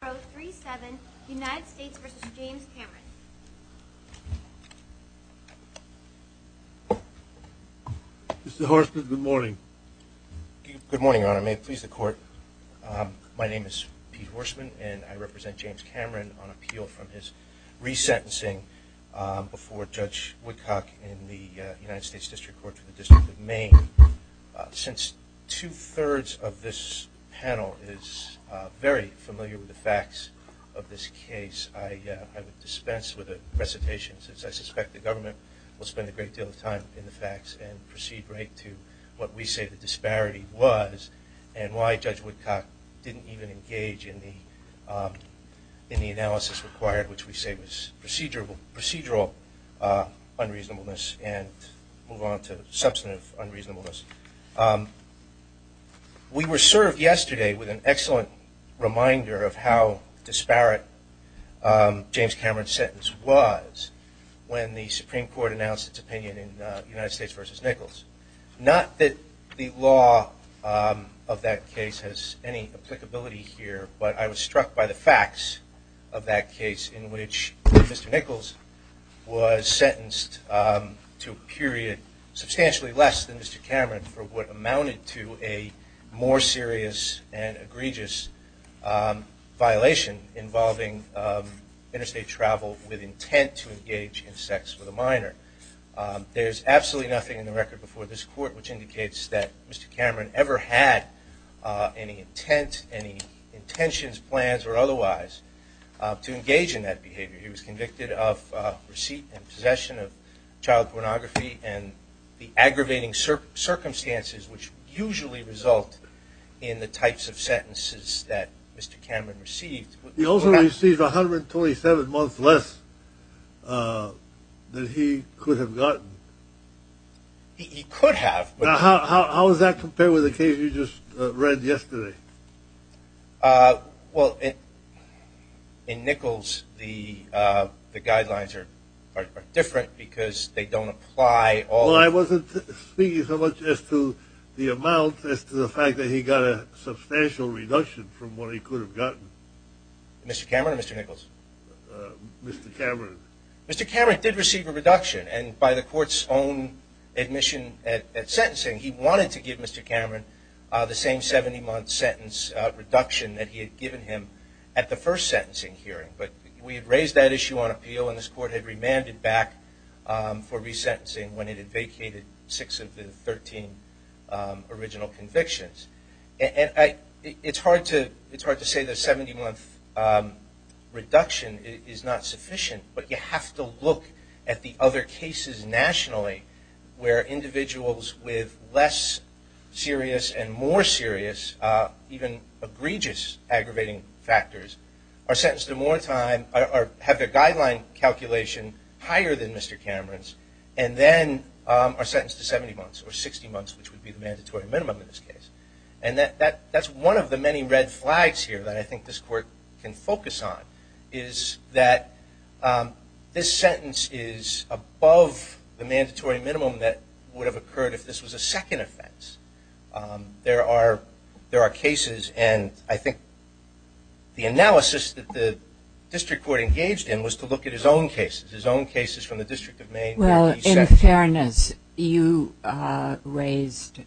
Mr. Horstman, good morning. Good morning, Your Honor. May it please the Court, my name is Pete Horstman and I represent James Cameron on appeal from his re-sentencing before Judge Woodcock in the United States District Court for the District of Maine. Since two-thirds of this panel is very familiar with the facts of this case, I would dispense with the recitations since I suspect the government will spend a great deal of time in the facts and proceed right to what we say the disparity was and why Judge Woodcock didn't even engage in the analysis required, which we say was procedural unreasonableness and move on to substantive unreasonableness. We were served yesterday with an excellent reminder of how disparate James Cameron's sentence was when the Supreme Court announced its opinion in United States v. Nichols. Not that the law of that case has any applicability here, but I was struck by the facts of that case in which Mr. Nichols was sentenced to a period substantially less than Mr. Cameron for what amounted to a more serious and egregious violation involving interstate travel with intent to engage in sex with a minor. There's absolutely nothing in the record before this Court which indicates that Mr. Cameron ever had any intent, any intentions, plans or otherwise to engage in that behavior. He was convicted of receipt and possession of child pornography and the aggravating circumstances which usually result in the types of sentences that Mr. Cameron received. He also received 127 months less than he could have gotten. He could have. How does that compare with the case you just read yesterday? Well, in Nichols the guidelines are different. In Nichols the guidelines are different because they don't apply. Well, I wasn't speaking so much as to the amount as to the fact that he got a substantial reduction from what he could have gotten. Mr. Cameron or Mr. Nichols? Mr. Cameron. Mr. Cameron did receive a reduction and by the Court's own admission at sentencing he wanted to give Mr. Cameron the same 70 month sentence reduction that he had given him at the first sentencing hearing, but we had raised that issue on appeal and this Court had remanded back for resentencing when it had vacated 6 of the 13 original convictions. It's hard to say the 70 month reduction is not sufficient, but you have to look at the other cases nationally where individuals with less serious and more serious, even egregious aggravating factors are sentenced to more time or have their guideline calculation higher than Mr. Cameron's and then are sentenced to 70 months or 60 months, which would be the mandatory minimum in this case. That's one of the many red flags here that I think this Court can focus on is that this sentence is above the mandatory minimum that would the analysis that the District Court engaged in was to look at his own cases, his own cases from the District of Maine. Well, in fairness, you raised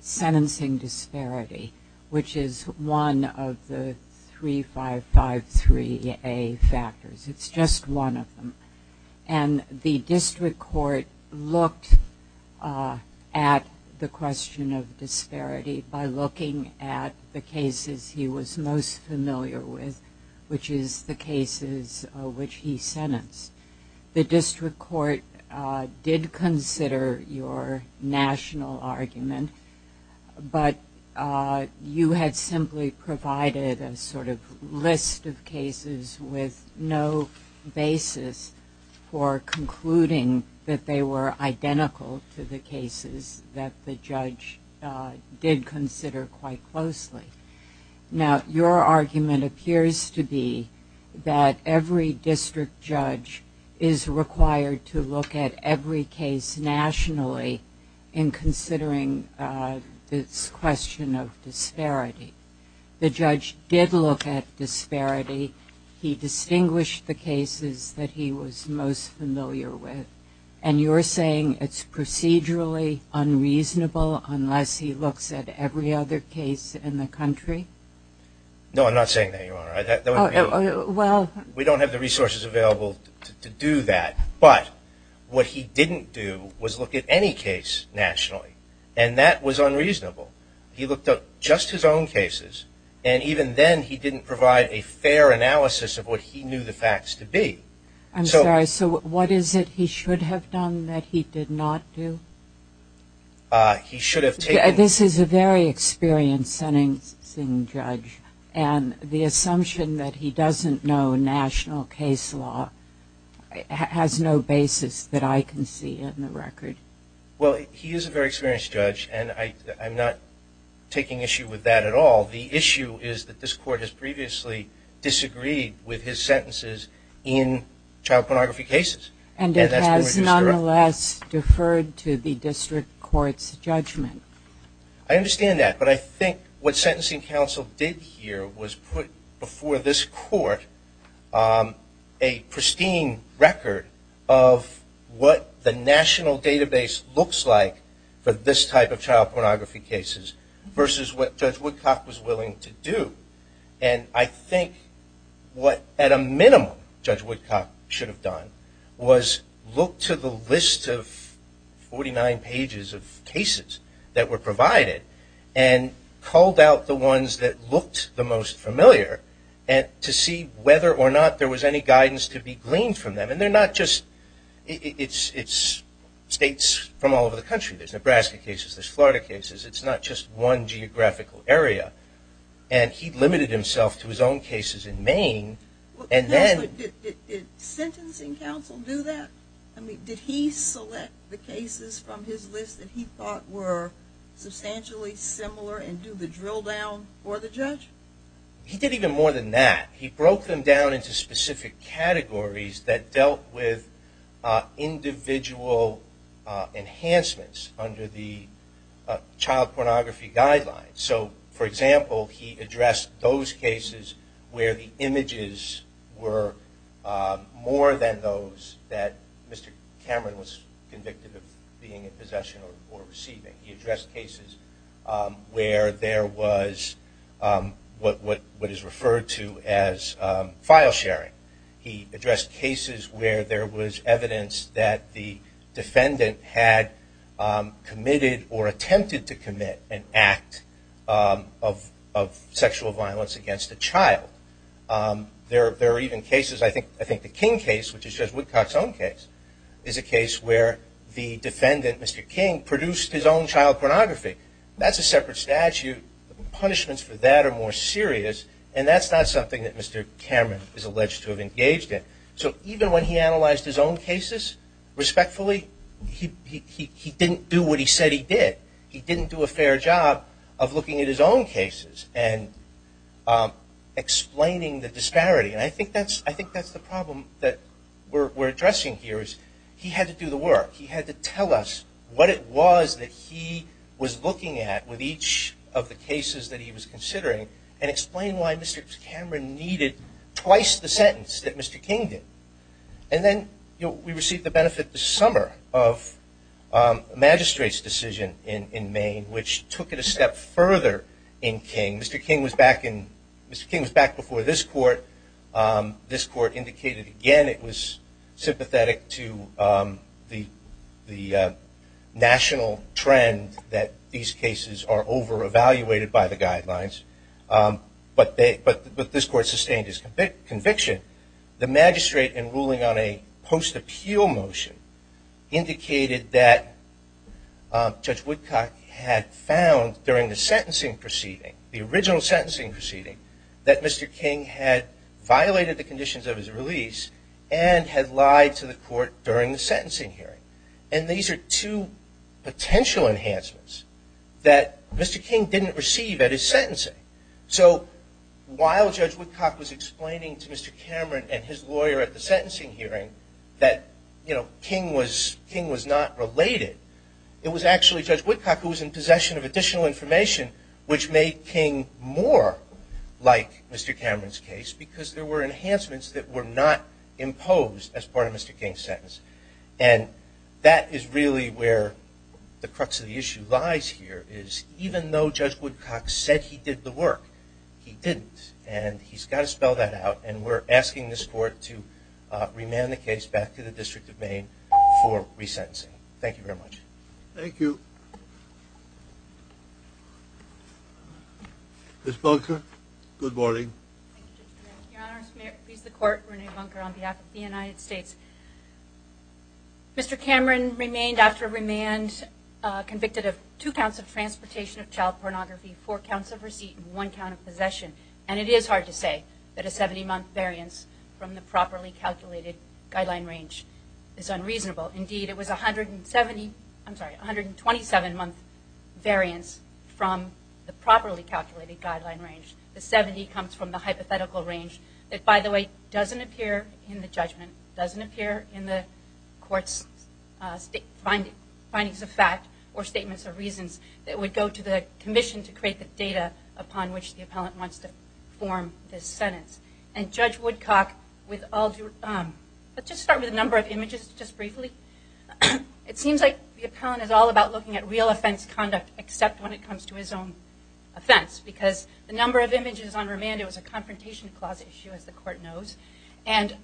sentencing disparity, which is one of the 3553A factors. It's just one of them and the District Court looked at the case most familiar with, which is the cases which he sentenced. The District Court did consider your national argument, but you had simply provided a sort of list of cases with no basis for concluding that they were identical to the cases that the judge did consider quite closely. Now, your argument appears to be that every district judge is required to look at every case nationally in considering this question of disparity. The judge did look at disparity. He distinguished the cases that he was most familiar with, and you're saying it's procedurally unreasonable unless he looks at every other case in the country? No, I'm not saying that, Your Honor. We don't have the resources available to do that, but what he didn't do was look at any case nationally, and that was unreasonable. He looked at just his own cases, and even then he didn't provide a fair analysis of what he knew the facts to be. I'm sorry, so what is it he should have done that he did not do? He should have taken... This is a very experienced sentencing judge, and the assumption that he doesn't know national case law has no basis that I can see in the record. Well, he is a very experienced judge, and I'm not taking issue with that at all. The issue is that this Court has previously disagreed with his sentences in child pornography cases. And it has nonetheless deferred to the District Court's judgment. I understand that, but I think what Sentencing Counsel did here was put before this Court a pristine record of what the national database looks like for this type of child pornography cases versus what Judge Woodcock was willing to do. And I think what, at a minimum, Judge Woodcock should have done was look to the list of 49 pages of cases that were provided and culled out the ones that looked the most familiar to see whether or not there was any guidance to be gleaned from them. And they're not just states from all over the country. There's Nebraska cases. There's Florida cases. It's not just one geographical area. And he limited himself to his own cases in Maine, and then... Did Sentencing Counsel do that? I mean, did he select the cases from his list that he thought were substantially similar and do the drill down for the judge? He did that with individual enhancements under the Child Pornography Guidelines. So, for example, he addressed those cases where the images were more than those that Mr. Cameron was convicted of being in possession or receiving. He addressed cases where there was what is evidenced that the defendant had committed or attempted to commit an act of sexual violence against a child. There are even cases... I think the King case, which is Judge Woodcock's own case, is a case where the defendant, Mr. King, produced his own child pornography. That's a separate statute. Punishments for that are more serious. And that's not something that Mr. Cameron is alleged to have engaged in. So even when he analyzed his own cases respectfully, he didn't do what he said he did. He didn't do a fair job of looking at his own cases and explaining the disparity. And I think that's the problem that we're addressing here. He had to do the work. He had to tell us what it was that he was looking at with each of the cases that he was considering and explain why Mr. Cameron needed twice the sentence that Mr. King did. And then we received the benefit this summer of a magistrate's decision in Maine, which took it a step further in King. Mr. King was back before this court. This court indicated again it was sympathetic to the national trend that these cases were over-evaluated by the guidelines. But this court sustained its conviction. The magistrate in ruling on a post-appeal motion indicated that Judge Woodcock had found during the sentencing proceeding, the original sentencing proceeding, that Mr. King had violated the conditions of his release and had lied to the court during the sentencing hearing. And these are two potential enhancements that Mr. King didn't receive at his sentencing. So while Judge Woodcock was explaining to Mr. Cameron and his lawyer at the sentencing hearing that King was not related, it was actually Judge Woodcock who was in possession of additional information which made King more like Mr. Cameron's case because there were enhancements that were not imposed as part of Mr. King's sentence. And that is really where the crux of the issue lies here, is even though Judge Woodcock said he did the work, he didn't. And he's got to spell that out. And we're asking this court to remand the case back to the District of Maine for resentencing. Thank you very much. Thank you. Ms. Bunker, good morning. Your Honor, may it please the Court, Renee Bunker on behalf of the United States. Mr. Cameron remained after remand convicted of two counts of transportation of child pornography, four counts of receipt, and one count of possession. And it is hard to say that a 70-month variance from the properly calculated guideline range is unreasonable. Indeed, it was a 127-month variance from the properly calculated guideline range. The 70 comes from the hypothetical range that, by the way, doesn't appear in the judgment, doesn't appear in the court's findings of fact or statements of reasons that would go to the commission to create the data upon which the appellant wants to form this sentence. And Judge Woodcock, with all due, let's just start with a number of images just briefly. It seems like the appellant is all about looking at real offense conduct, except when it comes to his own offense. Because the number of images on remand, it was a confrontation clause issue, as the Court knows. And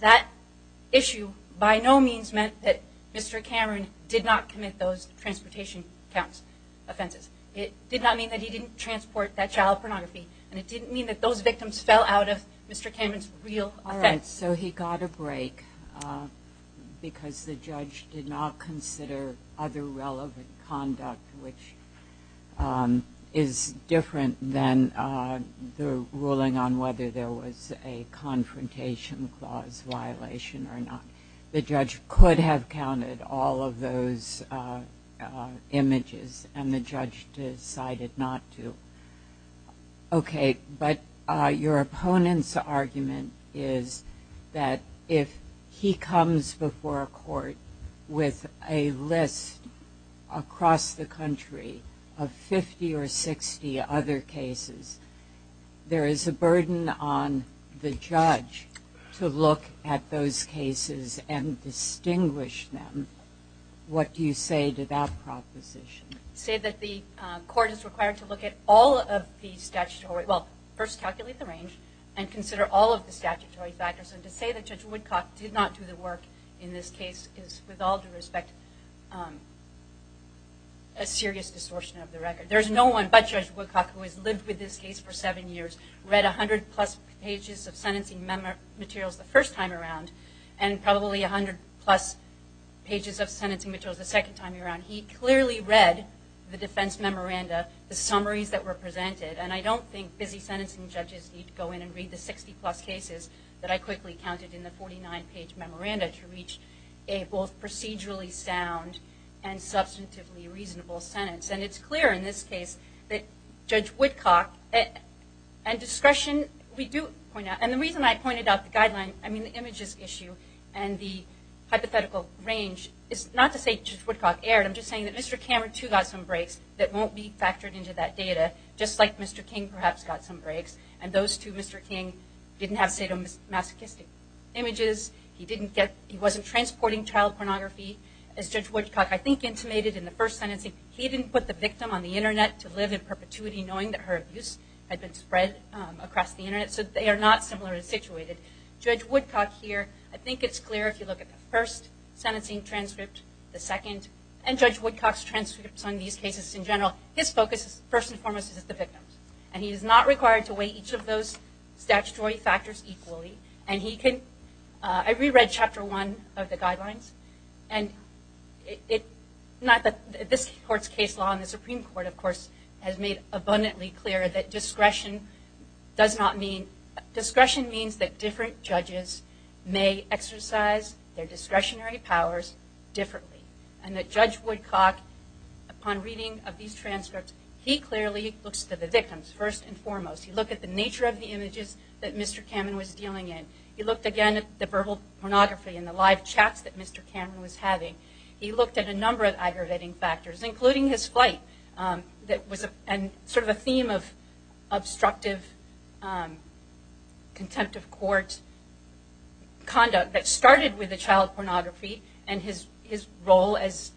that issue by no means meant that Mr. Cameron did not commit those transportation counts offenses. It did not mean that he didn't transport that child pornography, and it didn't mean that those victims fell out of Mr. Cameron's real offense. All right. So he got a break because the judge did not consider other relevant conduct, which is different than the ruling on whether there was a confrontation clause violation or not. The judge could have counted all of those images, and the judge decided not to. Okay. But your opponent's argument is that if he comes before a court with a list across the country of 50 or 60 other cases, there is a burden on the judge to look at those cases and distinguish them. What do you say to that proposition? Say that the court is required to look at all of the statutory, well, first calculate the range and consider all of the statutory factors. And to say that Judge Woodcock did not do the work in this case is, with all due respect, a serious distortion of the record. There's no one but Judge Woodcock who has lived with this case for seven years, read 100-plus pages of sentencing materials the first time around and probably 100-plus pages of sentencing materials the second time around. He clearly read the defense memoranda, the summaries that were presented. And I don't think busy sentencing judges need to go in and read the 60-plus cases that I quickly counted in the 49-page memoranda to reach a both procedurally sound and substantively reasonable sentence. And it's clear in this case that Judge Woodcock and discretion, we do point out, and the reason I pointed out the guideline, I mean the images issue and the hypothetical range, is not to say Judge Woodcock erred. I'm just saying that Mr. Cameron, too, got some breaks that won't be factored into that data, just like Mr. King perhaps got some breaks. And those two, Mr. King didn't have sadomasochistic images. He didn't get, he wasn't transporting child pornography. As Judge Woodcock, I think, intimated in the first sentencing, he didn't put the victim on the Internet to live in perpetuity knowing that her abuse had been spread across the Internet. So they are not similar in situated. Judge Woodcock here, I think it's clear if you look at the first sentencing transcript, the second, and Judge Woodcock's transcripts on these cases in general, his focus is first and foremost is the victims. And he is not required to weigh each of those statutory factors equally. And he can, I reread chapter one of the guidelines. And it, not that, this court's case law and the Supreme Court, of course, has made abundantly clear that discretion does not mean, discretion means that different judges may exercise their discretionary powers differently. And that Judge Woodcock, upon reading of these transcripts, he clearly looks to the victims first and foremost. He looked at the nature of the images that Mr. Cameron was dealing in. He looked again at the verbal pornography and the live chats that Mr. Cameron was having. He looked at a number of aggravating factors, including his flight that was a, and sort of a theme of obstructive contempt of court conduct that started with the child pornography and his role as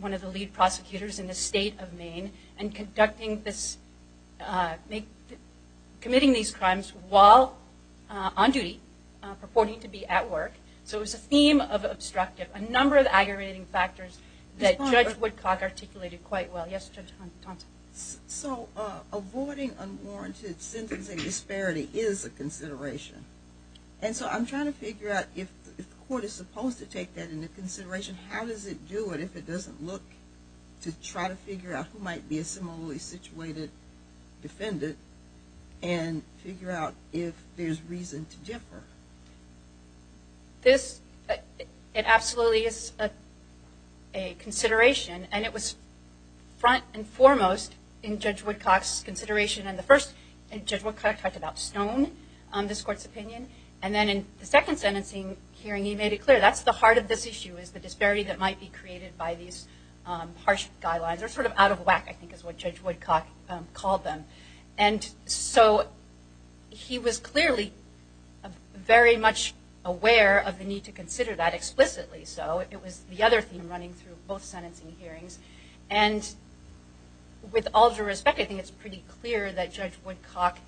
one of the lead prosecutors in the state of Maine and conducting this, committing these crimes while on duty, purporting to be at work. So it was a theme of obstructive, a number of aggravating factors that Judge Woodcock articulated quite well. Yes, Judge Thompson. So avoiding unwarranted sentencing disparity is a consideration. And so I'm trying to figure out if the court is supposed to take that into consideration, how does it do it if it figure out if there's reason to differ? This, it absolutely is a consideration. And it was front and foremost in Judge Woodcock's consideration in the first, and Judge Woodcock talked about Stone, this court's opinion. And then in the second sentencing hearing, he made it clear that's the heart of this issue is the disparity that might be created by these harsh guidelines, or sort of out of whack, I think is what Judge Woodcock called them. And so he was clearly very much aware of the need to consider that explicitly. So it was the other theme running through both sentencing hearings. And with all due respect, I think it's pretty clear that Judge Woodcock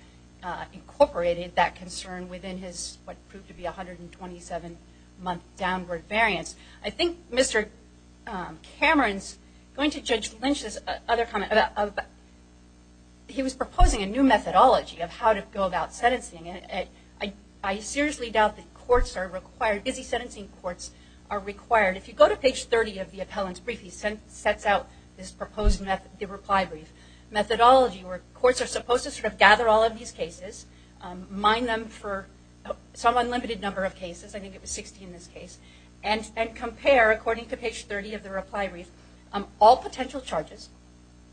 incorporated that concern within his what proved to be a 127-month downward variance. I think Mr. Cameron's going to Judge Lynch's other comment. He was proposing a new methodology of how to go about sentencing. And I seriously doubt that courts are required, busy sentencing courts are required. If you go to page 30 of the appellant's brief, he sets out this proposed reply brief methodology where courts are supposed to sort of gather all of these and compare, according to page 30 of the reply brief, all potential charges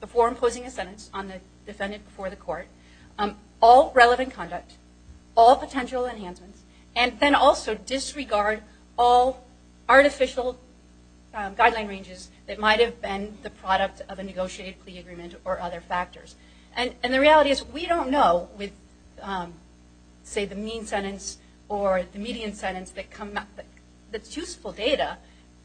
before imposing a sentence on the defendant before the court, all relevant conduct, all potential enhancements, and then also disregard all artificial guideline ranges that might have been the product of a negotiated plea agreement or other factors. And the reality is we don't know with, say, the mean sentence or the median sentence that's useful data,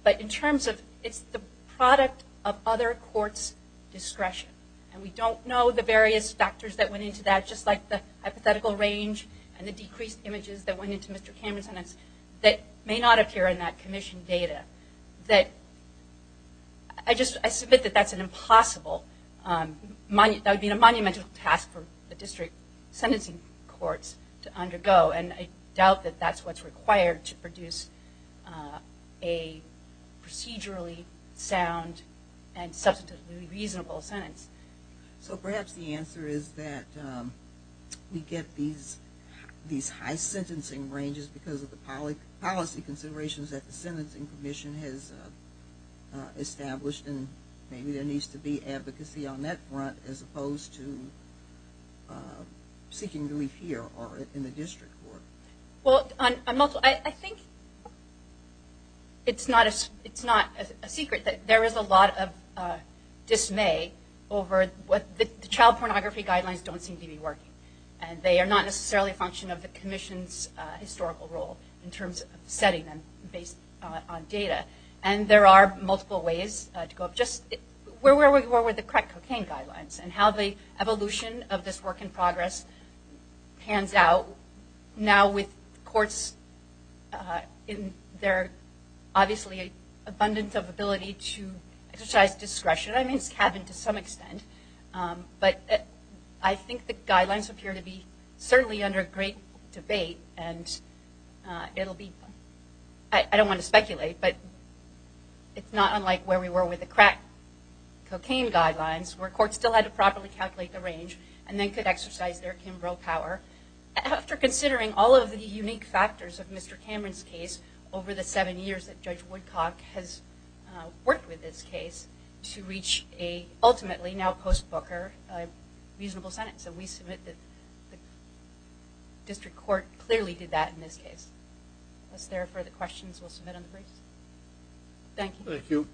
but in terms of it's the product of other courts' discretion. And we don't know the various factors that went into that, just like the hypothetical range and the decreased images that went into Mr. Cameron's sentence that may not appear in that commission data. I just submit that that's an impossible, that would be a monumental task for the district sentencing courts to undergo and I doubt that that's what's required to produce a procedurally sound and substantively reasonable sentence. So perhaps the answer is that we get these high sentencing ranges because of the policy considerations that the sentencing commission has established and maybe there needs to be advocacy on that front as opposed to seeking relief here or in the district court. Well, I think it's not a secret that there is a lot of dismay over what the child pornography guidelines don't seem to be working. And they are not necessarily a function of the commission's historical role in terms of setting them based on data. And there are multiple ways to go up, just where were we with the crack cocaine guidelines and how the evolution of this work in progress pans out now with courts in their obviously abundance of ability to exercise discretion, I mean it's happened to some extent, but I think the guidelines appear to be certainly under great debate and it'll be, I don't want to speculate, but it's not unlike where we were with the crack cocaine guidelines where courts still had to properly calculate the range and then could exercise their Kimbrough power. After considering all of the unique factors of Mr. Cameron's case over the seven years that Judge Woodcock has worked with this case to reach a ultimately now post-Booker reasonable sentence, so we submit that the district court clearly did that in this case. If there are further questions we'll submit on the briefs. Thank you.